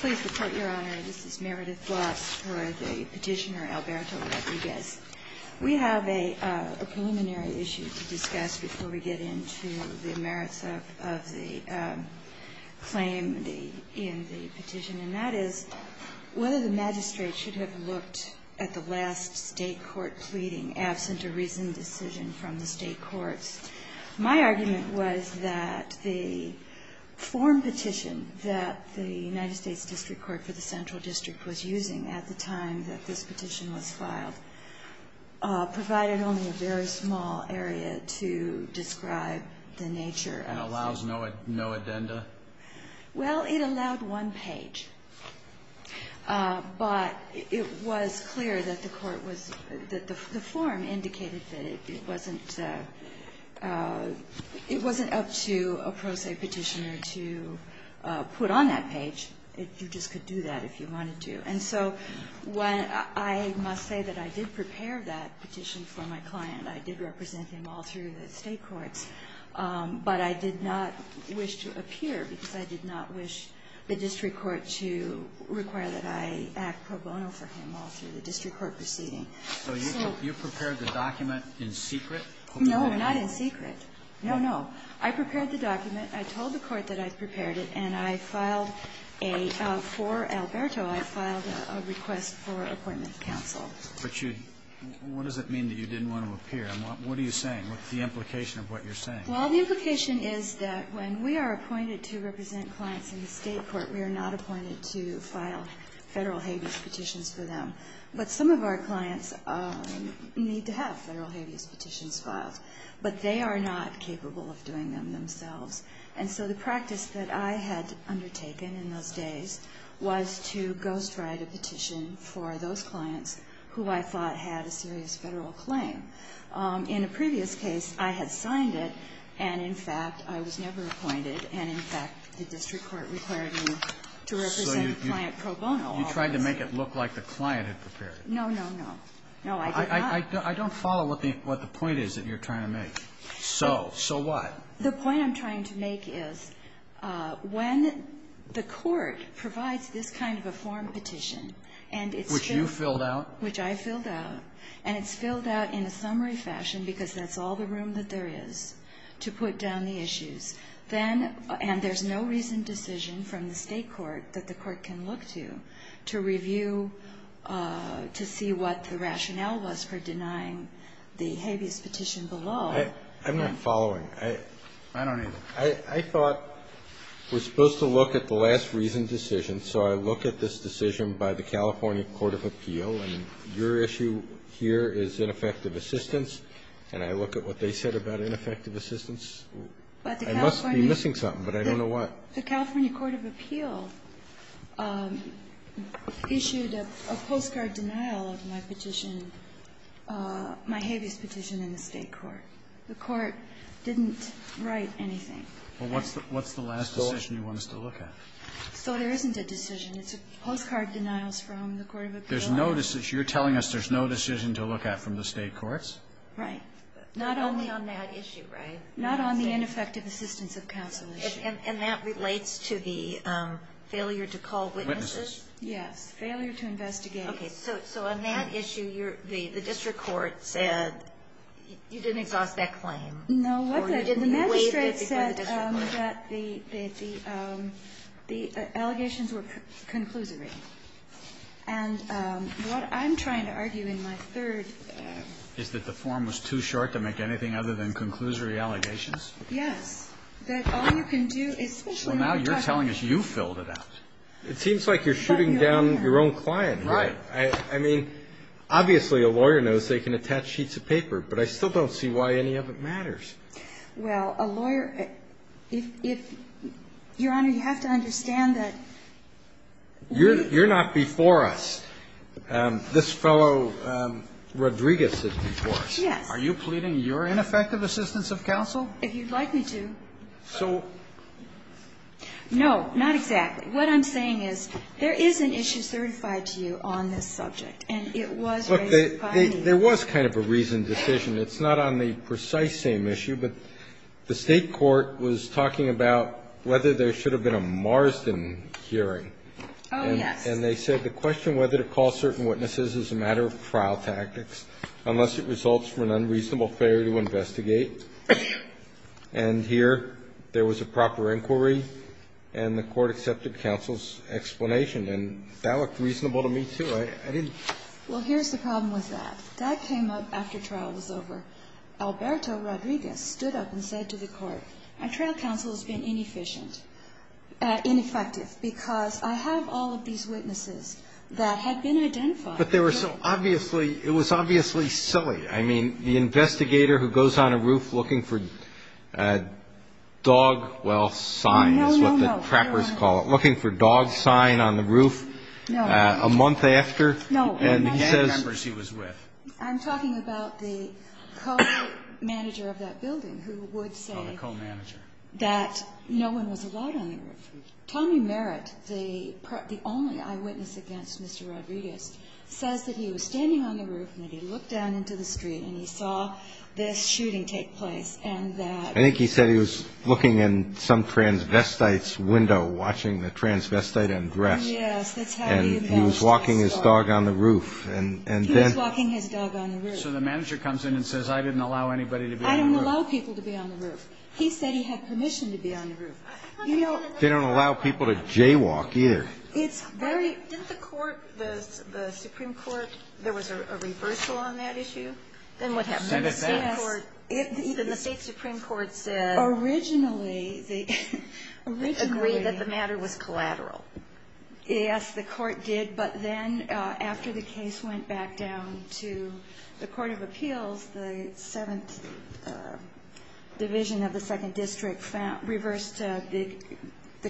Please report, Your Honor. This is Meredith Bloss for the petitioner, Alberto Rodriguez. We have a preliminary issue to discuss before we get into the merits of the claim in the petition, and that is whether the magistrate should have looked at the last state court pleading absent a reasoned decision from the state courts. My argument was that the form petition that the United States District Court for the Central District was using at the time that this petition was filed provided only a very small area to describe the nature of the state court. And allows no addenda? Well, it allowed one page, but it was clear that the court was – that the form indicated that it wasn't – it wasn't up to a pro se petitioner to put on that page. You just could do that if you wanted to. And so when – I must say that I did prepare that petition for my client. I did represent him all through the state courts, but I did not wish to appear because I did not wish the district court to require that I act pro bono for him all through the district court proceeding. So you prepared the document in secret? No, not in secret. No, no. I prepared the document. I told the court that I prepared it, and I filed a – for Alberto. I filed a request for appointment to counsel. But you – what does it mean that you didn't want to appear? And what are you saying? What's the implication of what you're saying? Well, the implication is that when we are appointed to represent clients in the state court, we are not appointed to file Federal habeas petitions for them. But some of our clients need to have Federal habeas petitions filed. But they are not capable of doing them themselves. And so the practice that I had undertaken in those days was to ghostwrite a petition for those clients who I thought had a serious Federal claim. In a previous case, I had signed it, and, in fact, I was never appointed. And, in fact, the district court required me to represent the client pro bono. You tried to make it look like the client had prepared it. No, no, no. No, I did not. I don't follow what the point is that you're trying to make. So, so what? The point I'm trying to make is when the court provides this kind of a form petition and it's filled out. Which you filled out? Which I filled out. And it's filled out in a summary fashion because that's all the room that there is to put down the issues. Then, and there's no reason decision from the state court that the court can look to to review, to see what the rationale was for denying the habeas petition below. I'm not following. I don't either. I thought we're supposed to look at the last reasoned decision, so I look at this decision by the California Court of Appeal, and your issue here is ineffective assistance, and I look at what they said about ineffective assistance. I must be missing something, but I don't know what. The California Court of Appeal issued a postcard denial of my petition, my habeas petition in the state court. The court didn't write anything. Well, what's the last decision you want us to look at? So there isn't a decision. It's postcard denials from the Court of Appeal. There's no decision. You're telling us there's no decision to look at from the state courts? Right. Not only on that issue, right? Not on the ineffective assistance of counsel issue. And that relates to the failure to call witnesses? Yes. Failure to investigate. Okay. So on that issue, the district court said you didn't exhaust that claim? No. The magistrate said that the allegations were conclusory. And what I'm trying to argue in my third ---- Is that the form was too short to make anything other than conclusory allegations? Yes. That all you can do is ---- So now you're telling us you filled it out. It seems like you're shooting down your own client here. Right. I mean, obviously, a lawyer knows they can attach sheets of paper. But I still don't see why any of it matters. Well, a lawyer ---- Your Honor, you have to understand that ---- You're not before us. This fellow, Rodriguez, is before us. Yes. Are you pleading your ineffective assistance of counsel? If you'd like me to. So ---- No. Not exactly. What I'm saying is there is an issue certified to you on this subject, and it was raised by me. Look, there was kind of a reasoned decision. It's not on the precise same issue, but the State court was talking about whether there should have been a Marsden hearing. Oh, yes. And they said the question whether to call certain witnesses is a matter of trial tactics unless it results from an unreasonable failure to investigate. And here there was a proper inquiry, and the court accepted counsel's explanation. And that looked reasonable to me, too. I didn't ---- Well, here's the problem with that. That came up after trial was over. Alberto Rodriguez stood up and said to the court, my trial counsel has been inefficient ---- ineffective because I have all of these witnesses that had been identified. But they were so obviously ---- it was obviously silly. I mean, the investigator who goes on a roof looking for dog, well, sign is what the trappers No, no, no. They're right. Looking for dog sign on the roof a month after. No. No. And he says ---- He remembers he was with. I'm talking about the co-manager of that building who would say ---- Oh, the co-manager. ---- that no one was allowed on the roof. Tommy Merritt, the only eyewitness against Mr. Rodriguez, says that he was standing on the roof and that he looked down into the street and he saw this shooting take place and that ---- I think he said he was looking in some transvestite's window, watching the transvestite undress. Yes. That's how he embellished the story. And he was walking his dog on the roof. And then ---- He was walking his dog on the roof. So the manager comes in and says I didn't allow anybody to be on the roof. I didn't allow people to be on the roof. He said he had permission to be on the roof. You know ---- They don't allow people to jaywalk, either. It's very ---- Didn't the Court, the Supreme Court, there was a reversal on that issue? Then what happened? Yes. Even the State Supreme Court said ---- Originally, the ---- Originally ---- Agreed that the matter was collateral. Yes, the Court did. But then after the case went back down to the Court of Appeals, the Seventh Division of the Second District reversed the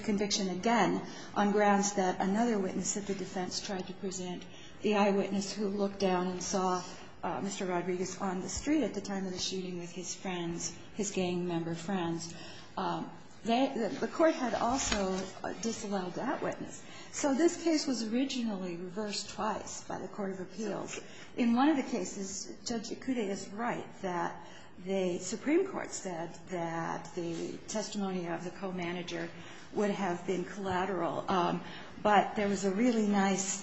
conviction again on grounds that another witness of the defense tried to present the eyewitness who looked down and saw Mr. Rodriguez on the street at the time of the shooting with his friends, his gang member friends. The Court had also disallowed that witness. So this case was originally reversed twice by the Court of Appeals. In one of the cases, Judge Ikude is right that the Supreme Court said that the testimony of the co-manager would have been collateral, but there was a really nice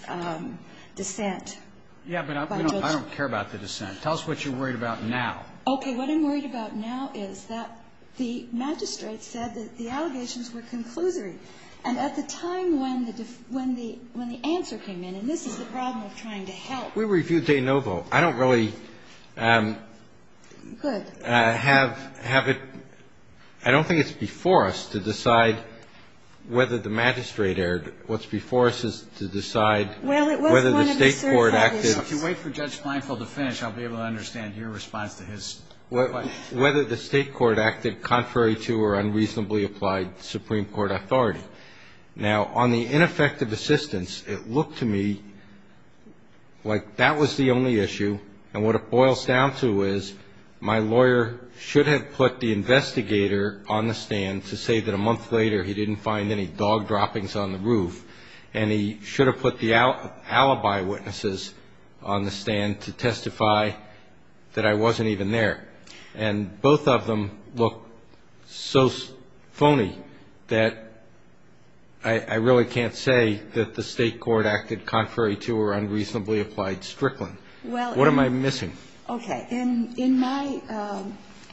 dissent by Judge ---- Yes, but I don't care about the dissent. Tell us what you're worried about now. Okay. What I'm worried about now is that the magistrate said that the allegations were conclusory. And at the time when the ---- when the answer came in, and this is the problem of trying to help ---- We reviewed de novo. I don't really have it ---- I don't think it's before us to decide whether the magistrate erred. What's before us is to decide whether the State court acted ---- Well, it was one of the certified witnesses. If you wait for Judge Blinefeld to finish, I'll be able to understand your response to his question. Whether the State court acted contrary to or unreasonably applied Supreme Court authority. Now, on the ineffective assistance, it looked to me like that was the only issue. And what it boils down to is my lawyer should have put the investigator on the stand to say that a month later he didn't find any dog droppings on the roof. And he should have put the alibi witnesses on the stand to testify that I wasn't even there. And both of them look so phony that I really can't say that the State court acted contrary to or unreasonably applied Strickland. What am I missing? Okay. In my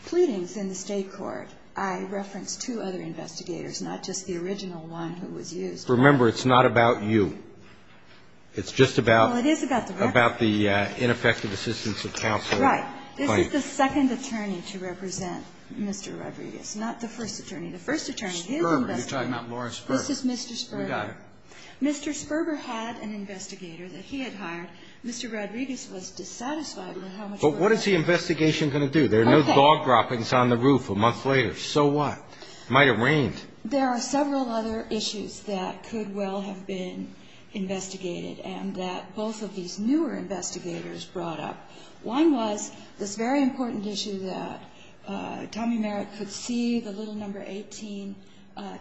pleadings in the State court, I referenced two other investigators, not just the original one who was used. Remember, it's not about you. It's just about the ineffective assistance of counsel. Right. This is the second attorney to represent Mr. Rodriguez, not the first attorney. The first attorney, his investigator. Sperber. You're talking about Lawrence Sperber. This is Mr. Sperber. We got it. Mr. Sperber had an investigator that he had hired. Mr. Rodriguez was dissatisfied with how much work was done. But what is the investigation going to do? There are no dog droppings on the roof a month later. So what? It might have rained. There are several other issues that could well have been investigated and that both of these newer investigators brought up. One was this very important issue that Tommy Merritt could see the little number 18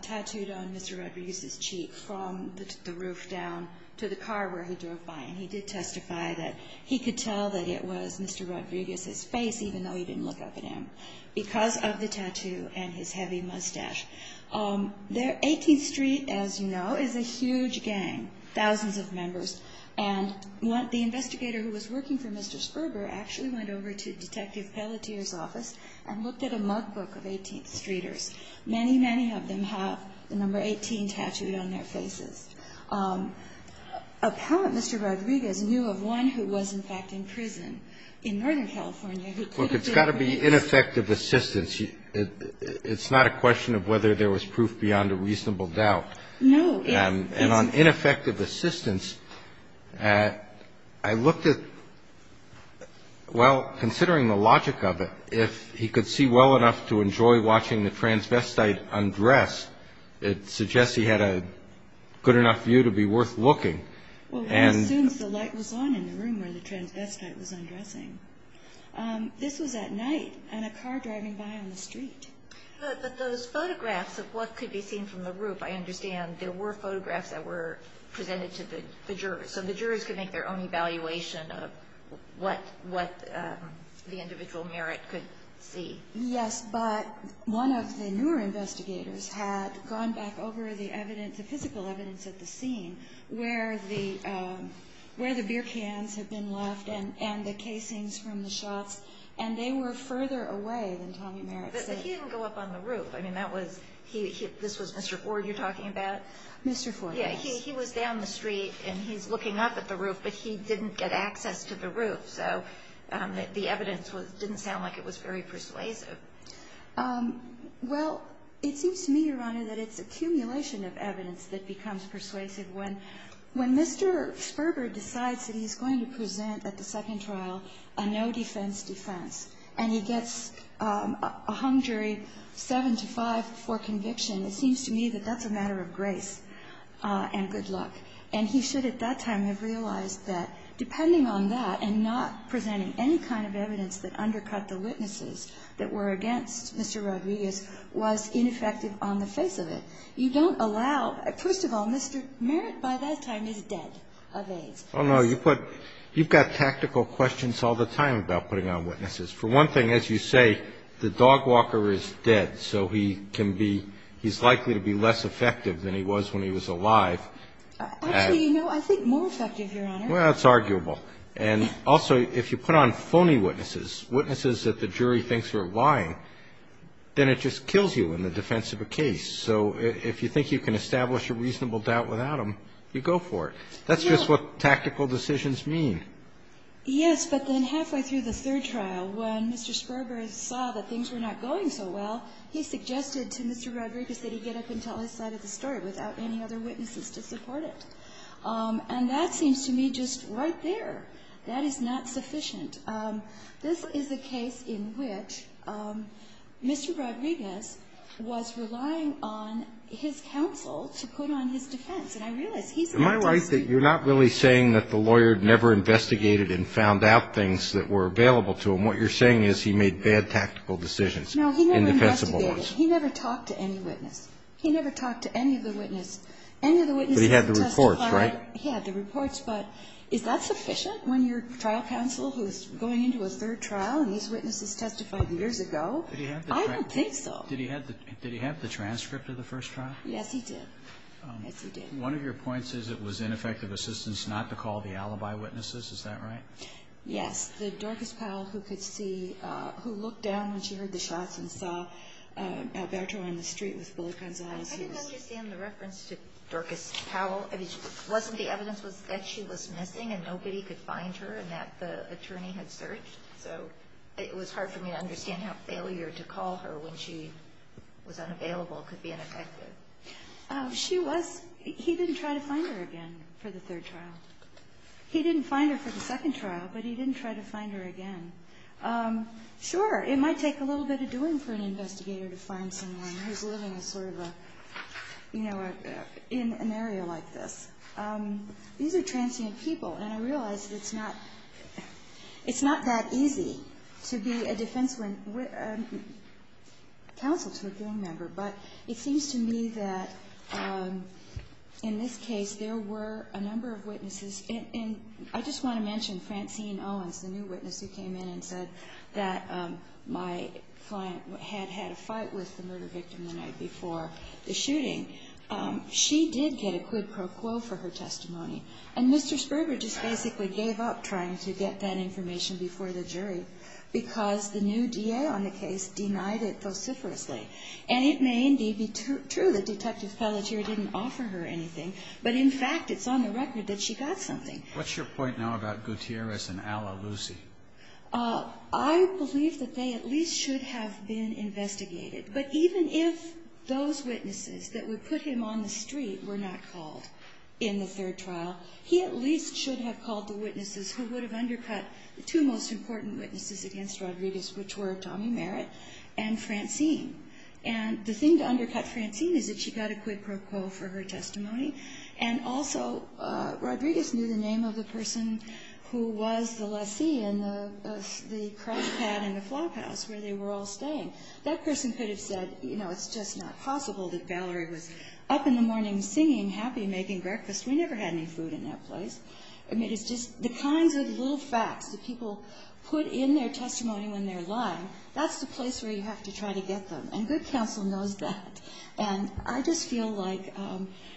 tattooed on Mr. Rodriguez's cheek from the roof down to the car where he drove by. And he did testify that he could tell that it was Mr. Rodriguez's face, even though he didn't look up at him, because of the tattoo and his heavy mustache. 18th Street, as you know, is a huge gang, thousands of members. And the investigator who was working for Mr. Sperber actually went over to Detective Pelletier's office and looked at a mug book of 18th Streeters. Many, many of them have the number 18 tattooed on their faces. Apparently, Mr. Rodriguez knew of one who was, in fact, in prison in Northern California who could have been Mr. Rodriguez. Look, it's got to be ineffective assistance. It's not a question of whether there was proof beyond a reasonable doubt. No. And on ineffective assistance, I looked at, well, considering the logic of it, if he could see well enough to enjoy watching the transvestite undress, it suggests he had a good enough view to be worth looking. Well, he assumes the light was on in the room where the transvestite was undressing. This was at night and a car driving by on the street. But those photographs of what could be seen from the roof, I understand there were photographs that were presented to the jurors. So the jurors could make their own evaluation of what the individual Merritt could see. Yes, but one of the newer investigators had gone back over the evidence, the physical evidence at the scene where the beer cans had been left and the casings from the shots, and they were further away than Tommy Merritt said. But he didn't go up on the roof. I mean, that was he – this was Mr. Ford you're talking about? Mr. Ford, yes. Yeah. He was down the street and he's looking up at the roof, but he didn't get access to the roof. So the evidence didn't sound like it was very persuasive. Well, it seems to me, Your Honor, that it's accumulation of evidence that becomes persuasive. When Mr. Ferber decides that he's going to present at the second trial a no-defense defense and he gets a hung jury 7-5 for conviction, it seems to me that that's a matter of grace and good luck. And he should at that time have realized that depending on that and not presenting any kind of evidence that undercut the witnesses that were against Mr. Rodriguez was ineffective on the face of it. You don't allow – first of all, Mr. Merritt by that time is dead of AIDS. Oh, no. You put – you've got tactical questions all the time about putting on witnesses. For one thing, as you say, the dog walker is dead, so he can be – he's likely to be less effective than he was when he was alive. Actually, you know, I think more effective, Your Honor. Well, it's arguable. And also, if you put on phony witnesses, witnesses that the jury thinks are lying, then it just kills you in the defense of a case. So if you think you can establish a reasonable doubt without them, you go for it. That's just what tactical decisions mean. Yes, but then halfway through the third trial, when Mr. Sperber saw that things were not going so well, he suggested to Mr. Rodriguez that he get up and tell his side of the story without any other witnesses to support it. And that seems to me just right there. That is not sufficient. This is a case in which Mr. Rodriguez was relying on his counsel to put on his defense. Am I right that you're not really saying that the lawyer never investigated and found out things that were available to him? What you're saying is he made bad tactical decisions in the defense of the case. No, he never investigated. He never talked to any witness. He never talked to any of the witnesses. Any of the witnesses testified. But he had the reports, right? He had the reports. But is that sufficient when you're a trial counsel who's going into a third trial and these witnesses testified years ago? I don't think so. Did he have the transcript of the first trial? Yes, he did. One of your points is it was ineffective assistance not to call the alibi witnesses. Is that right? Yes. The Dorcas Powell who could see, who looked down when she heard the shots and saw Alberto on the street with bullet guns in his hands. I didn't understand the reference to Dorcas Powell. I mean, wasn't the evidence that she was missing and nobody could find her and that the attorney had searched? So it was hard for me to understand how failure to call her when she was unavailable could be ineffective. She was. He didn't try to find her again for the third trial. He didn't find her for the second trial, but he didn't try to find her again. Sure, it might take a little bit of doing for an investigator to find someone who's living in sort of a, you know, in an area like this. These are transient people, and I realize that it's not that easy to be a defense counsel to a gang member. But it seems to me that in this case there were a number of witnesses. And I just want to mention Francine Owens, the new witness who came in and said that my client had had a fight with the murder victim the night before the shooting. She did get a quid pro quo for her testimony. And Mr. Sperber just basically gave up trying to get that information before the jury because the new DA on the case denied it vociferously. And it may indeed be true that Detective Pelletier didn't offer her anything, but in fact it's on the record that she got something. What's your point now about Gutierrez and Alla Lucy? I believe that they at least should have been investigated. But even if those witnesses that would put him on the street were not called in the third trial, he at least should have called the witnesses who would have undercut the two most important witnesses against Rodriguez, which were Tommy Merritt and Francine. And the thing to undercut Francine is that she got a quid pro quo for her testimony. And also Rodriguez knew the name of the person who was the lessee in the cross pad in the flop house where they were all staying. That person could have said, you know, it's just not possible that Valerie was up in the morning singing, happy, making breakfast. We never had any food in that place. I mean, it's just the kinds of little facts that people put in their testimony when they're lying, that's the place where you have to try to get them. And good counsel knows that. And I just feel like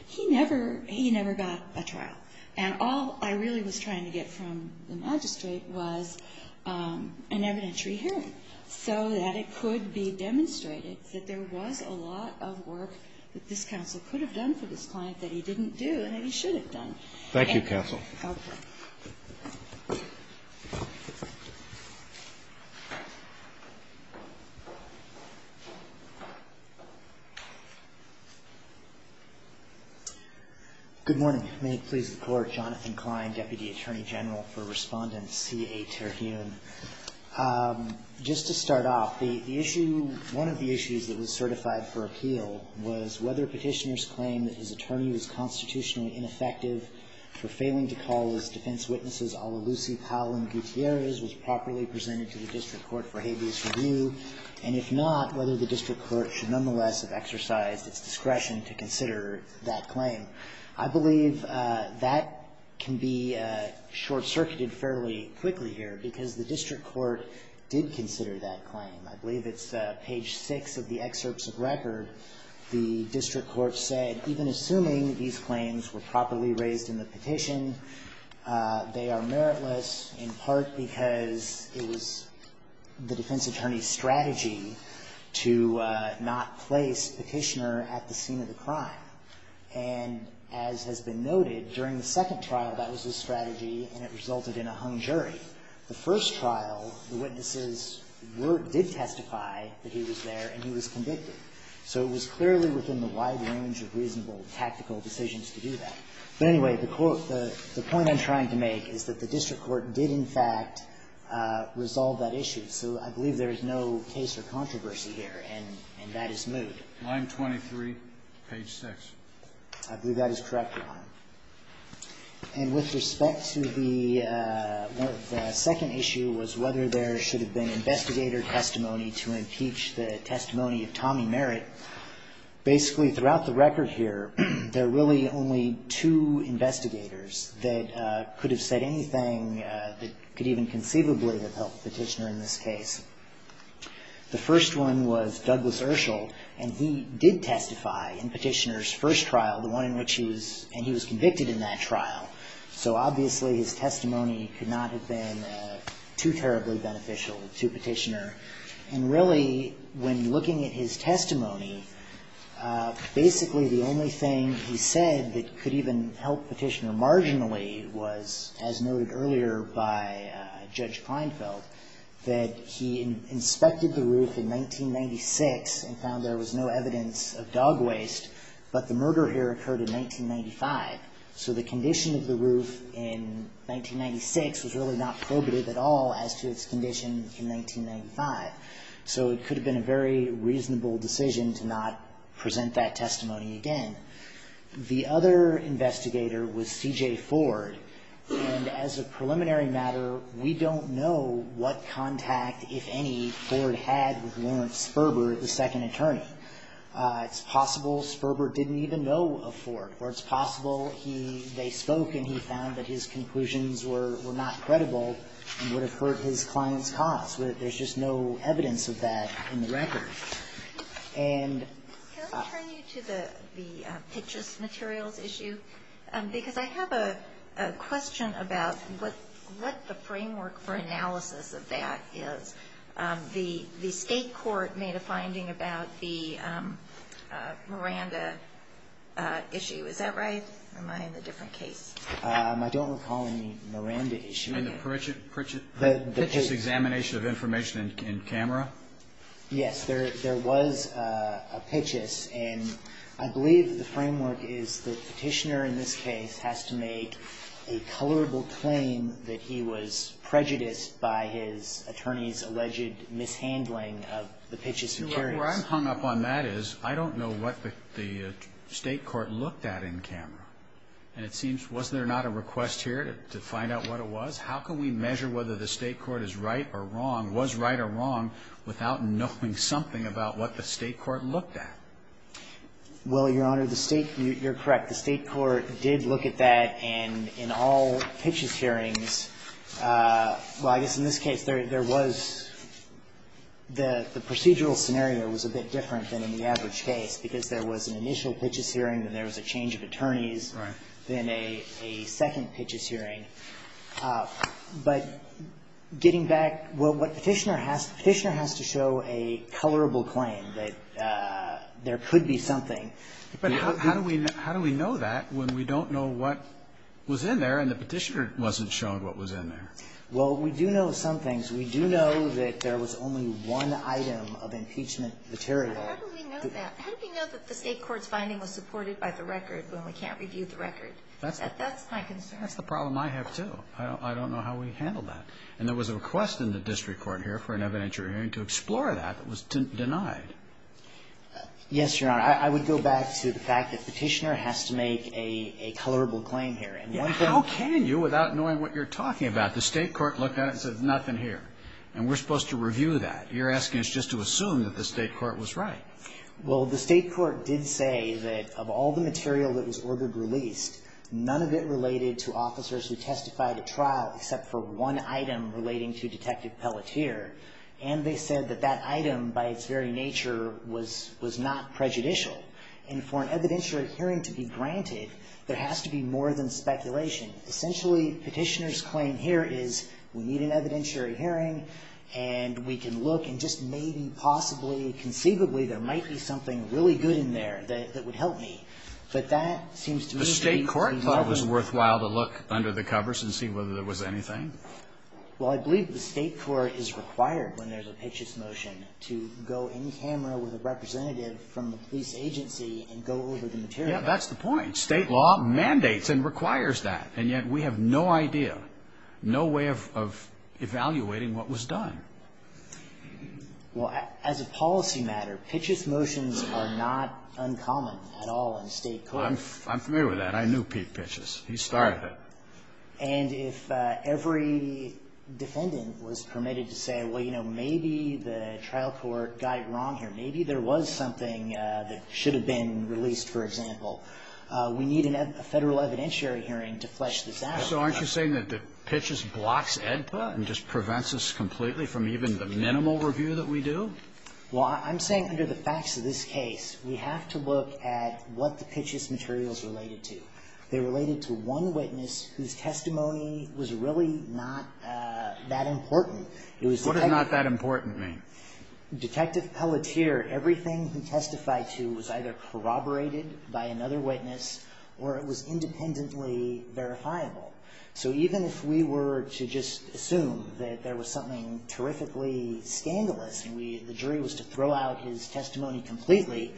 he never got a trial. And all I really was trying to get from the magistrate was an evidentiary hearing so that it could be demonstrated that there was a lot of work that this counsel could have done for this client that he didn't do and that he should have done. Thank you, counsel. Okay. Good morning. May it please the Court. Jonathan Klein, Deputy Attorney General for Respondent C.A. Terhune. Just to start off, the issue, one of the issues that was certified for appeal was whether Petitioner's claim that his attorney was constitutionally ineffective for failing to call his defense witnesses a la Lucy Powell and Gutierrez was properly presented to the district court for habeas review, and if not, whether the district court should nonetheless have exercised its discretion to consider that claim. I believe that can be short-circuited fairly quickly here because the district court did consider that claim. I believe it's page 6 of the excerpts of record. The district court said even assuming these claims were properly raised in the petition, they are meritless in part because it was the defense attorney's strategy to not place Petitioner at the scene of the crime. And as has been noted, during the second trial, that was his strategy, and it resulted in a hung jury. The first trial, the witnesses were or did testify that he was there and he was convicted. So it was clearly within the wide range of reasonable tactical decisions to do that. But anyway, the point I'm trying to make is that the district court did, in fact, resolve that issue. So I believe there is no case or controversy here, and that is moved. The line 23, page 6. I believe that is correct, Your Honor. And with respect to the second issue was whether there should have been investigator testimony to impeach the testimony of Tommy Merritt. Basically, throughout the record here, there are really only two investigators that could have said anything that could even conceivably have helped Petitioner in this case. The first one was Douglas Urschel, and he did testify in Petitioner's first trial, the one in which he was, and he was convicted in that trial. So obviously, his testimony could not have been too terribly beneficial to Petitioner. And really, when looking at his testimony, basically the only thing he said that could even help Petitioner marginally was, as noted earlier by Judge Kleinfeld, that he inspected the roof in 1996 and found there was no evidence of dog waste, but the murder here occurred in 1995. So the condition of the roof in 1996 was really not probative at all as to its condition in 1995. So it could have been a very reasonable decision to not present that testimony again. The other investigator was C.J. Ford, and as a preliminary matter, we don't know what contact, if any, Ford had with Lawrence Sperber, the second attorney. It's possible Sperber didn't even know of Ford, or it's possible he, they spoke and he found that his conclusions were not credible and would have hurt his client's cause. There's just no evidence of that in the record. And Can I turn you to the pictures materials issue? Because I have a question about what the framework for analysis of that is. The state court made a finding about the Miranda issue. Is that right? Or am I in a different case? I don't recall any Miranda issue. And the Pitchess examination of information in camera? Yes. There was a Pitchess. And I believe the framework is the petitioner in this case has to make a colorable claim that he was prejudiced by his attorney's alleged mishandling of the Pitchess materials. Where I'm hung up on that is I don't know what the state court looked at in camera. And it seems, was there not a request here to find out what it was? How can we measure whether the state court is right or wrong, was right or wrong, without knowing something about what the state court looked at? Well, Your Honor, the state, you're correct. The state court did look at that. And in all Pitchess hearings, well, I guess in this case, there was, the procedural scenario was a bit different than in the average case, because there was an initial Pitchess hearing, then there was a change of attorneys, then a second Pitchess hearing. But getting back, well, what petitioner has, petitioner has to show a colorable claim that there could be something. But how do we know that when we don't know what was in there and the petitioner wasn't showing what was in there? Well, we do know some things. We do know that there was only one item of impeachment material. How do we know that? How do we know that the state court's finding was supported by the record when we can't review the record? That's my concern. That's the problem I have, too. I don't know how we handled that. And there was a request in the district court here for an evidentiary hearing to explore that. It was denied. Yes, Your Honor. I would go back to the fact that petitioner has to make a colorable claim here. How can you, without knowing what you're talking about? The state court looked at it and said, nothing here. And we're supposed to review that. You're asking us just to assume that the state court was right. Well, the state court did say that of all the material that was ordered released, none of it related to officers who testified at trial except for one item relating to Detective Pelletier. And they said that that item, by its very nature, was not prejudicial. And for an evidentiary hearing to be granted, there has to be more than speculation. Essentially, petitioner's claim here is we need an evidentiary hearing, and we can look and just maybe, possibly, conceivably, there might be something really good in there that would help me. But that seems to me to be more than enough. The state court thought it was worthwhile to look under the covers and see whether there was anything? Well, I believe the state court is required when there's a Pitchess motion to go in camera with a representative from the police agency and go over the material. Yeah, that's the point. State law mandates and requires that. And yet we have no idea, no way of evaluating what was done. Well, as a policy matter, Pitchess motions are not uncommon at all in state court. I'm familiar with that. I knew Pete Pitchess. He started it. And if every defendant was permitted to say, well, you know, maybe the trial court got it wrong here, maybe there was something that should have been released, for example, we need a Federal evidentiary hearing to flesh this out. So aren't you saying that the Pitchess blocks AEDPA and just prevents us completely from even the minimal review that we do? Well, I'm saying under the facts of this case, we have to look at what the Pitchess material is related to. They're related to one witness whose testimony was really not that important. What does not that important mean? Detective Pelletier, everything he testified to was either corroborated by another witness or it was independently verifiable. So even if we were to just assume that there was something terrifically scandalous and the jury was to throw out his testimony completely,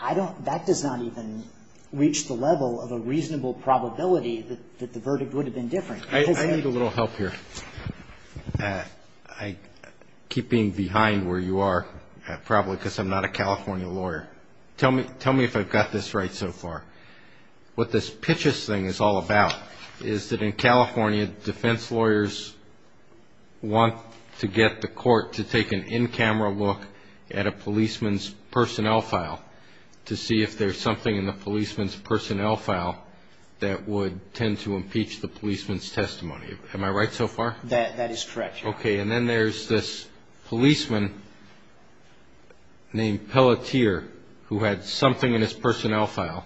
that does not even reach the level of a reasonable probability that the verdict would have been different. I need a little help here. I keep being behind where you are probably because I'm not a California lawyer. Tell me if I've got this right so far. What this Pitchess thing is all about is that in California, defense lawyers want to get the court to take an in-camera look at a policeman's personnel file to see if there's something in the policeman's personnel file that would tend to impeach the policeman's testimony. Am I right so far? That is correct, Your Honor. Okay. And then there's this policeman named Pelletier who had something in his personnel file.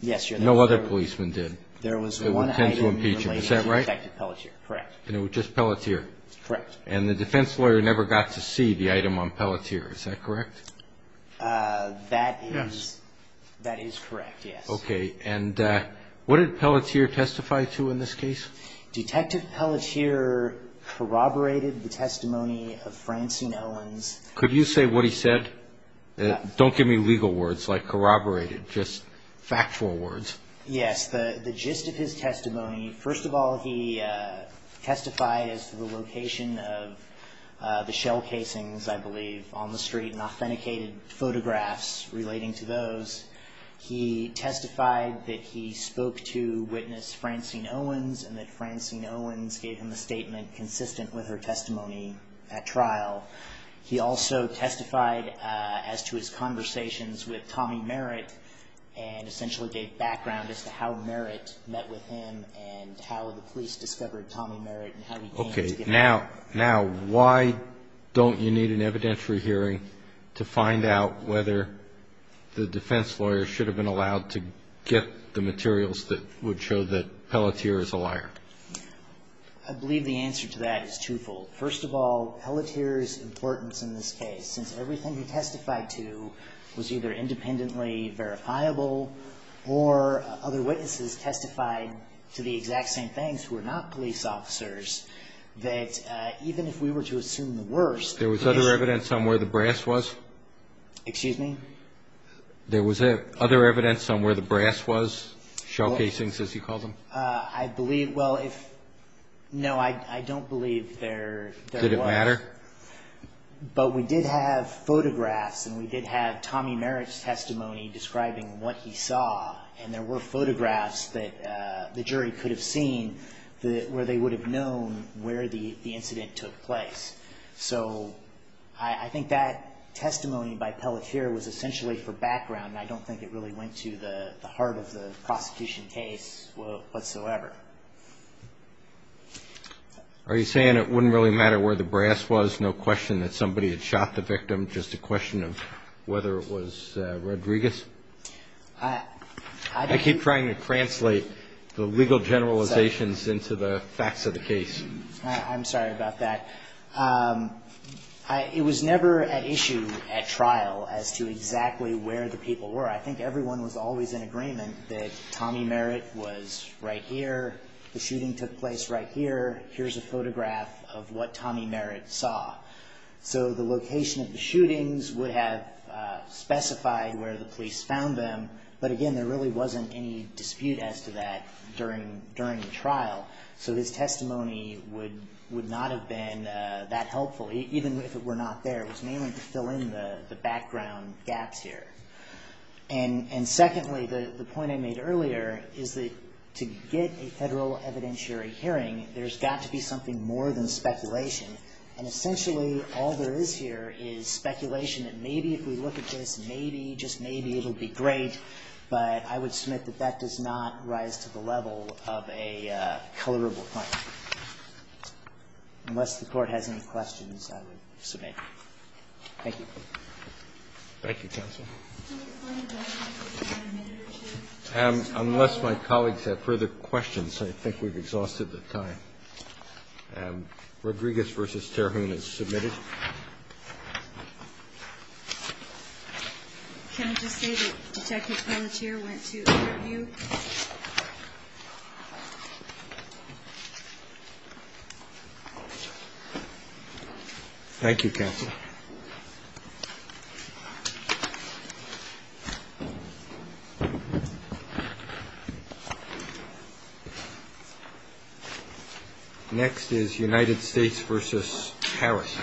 Yes, Your Honor. No other policeman did. There was one item in relation to Detective Pelletier. Is that right? Correct. And it was just Pelletier? Correct. And the defense lawyer never got to see the item on Pelletier. Is that correct? That is correct, yes. Okay. And what did Pelletier testify to in this case? Detective Pelletier corroborated the testimony of Francine Owens. Could you say what he said? Don't give me legal words like corroborated, just factual words. Yes. The gist of his testimony, first of all, he testified as to the location of the shell casings, I believe, on the street and authenticated photographs relating to those. He testified that he spoke to witness Francine Owens and that Francine Owens gave him a statement consistent with her testimony at trial. He also testified as to his conversations with Tommy Merritt and essentially gave background as to how Merritt met with him and how the police discovered Tommy Merritt and how he came to get help. Okay. Now, why don't you need an evidentiary hearing to find out whether the defense lawyer should have been allowed to get the materials that would show that Pelletier is a liar? I believe the answer to that is twofold. First of all, Pelletier's importance in this case, since everything he testified to was either independently verifiable or other witnesses testified to the exact same things who are not police officers, that even if we were to assume the worst. There was other evidence on where the brass was? Excuse me? There was other evidence on where the brass was, shell casings as you called them? I believe, well, no, I don't believe there was. Did it matter? But we did have photographs and we did have Tommy Merritt's testimony describing what he saw and there were photographs that the jury could have seen where they would have known where the incident took place. So I think that testimony by Pelletier was essentially for background and I don't think it really went to the heart of the prosecution case whatsoever. Are you saying it wouldn't really matter where the brass was, no question that somebody had shot the victim, just a question of whether it was Rodriguez? I keep trying to translate the legal generalizations into the facts of the case. I'm sorry about that. It was never an issue at trial as to exactly where the people were. I think everyone was always in agreement that Tommy Merritt was right here, the shooting took place right here, here's a photograph of what Tommy Merritt saw. So the location of the shootings would have specified where the police found them, but again, there really wasn't any dispute as to that during the trial. So his testimony would not have been that helpful, even if it were not there. It was mainly to fill in the background gaps here. And secondly, the point I made earlier is that to get a Federal evidentiary hearing, there's got to be something more than speculation. And essentially, all there is here is speculation that maybe if we look at this, maybe, just maybe, it'll be great, but I would submit that that does not rise to the level of a colorable point. Unless the Court has any questions, I would submit. Thank you. Roberts. Thank you, counsel. Unless my colleagues have further questions, I think we've exhausted the time. Rodriguez v. Terhune is submitted. Can I just say that Detective Palantir went to an interview? Next is United States v. Harris.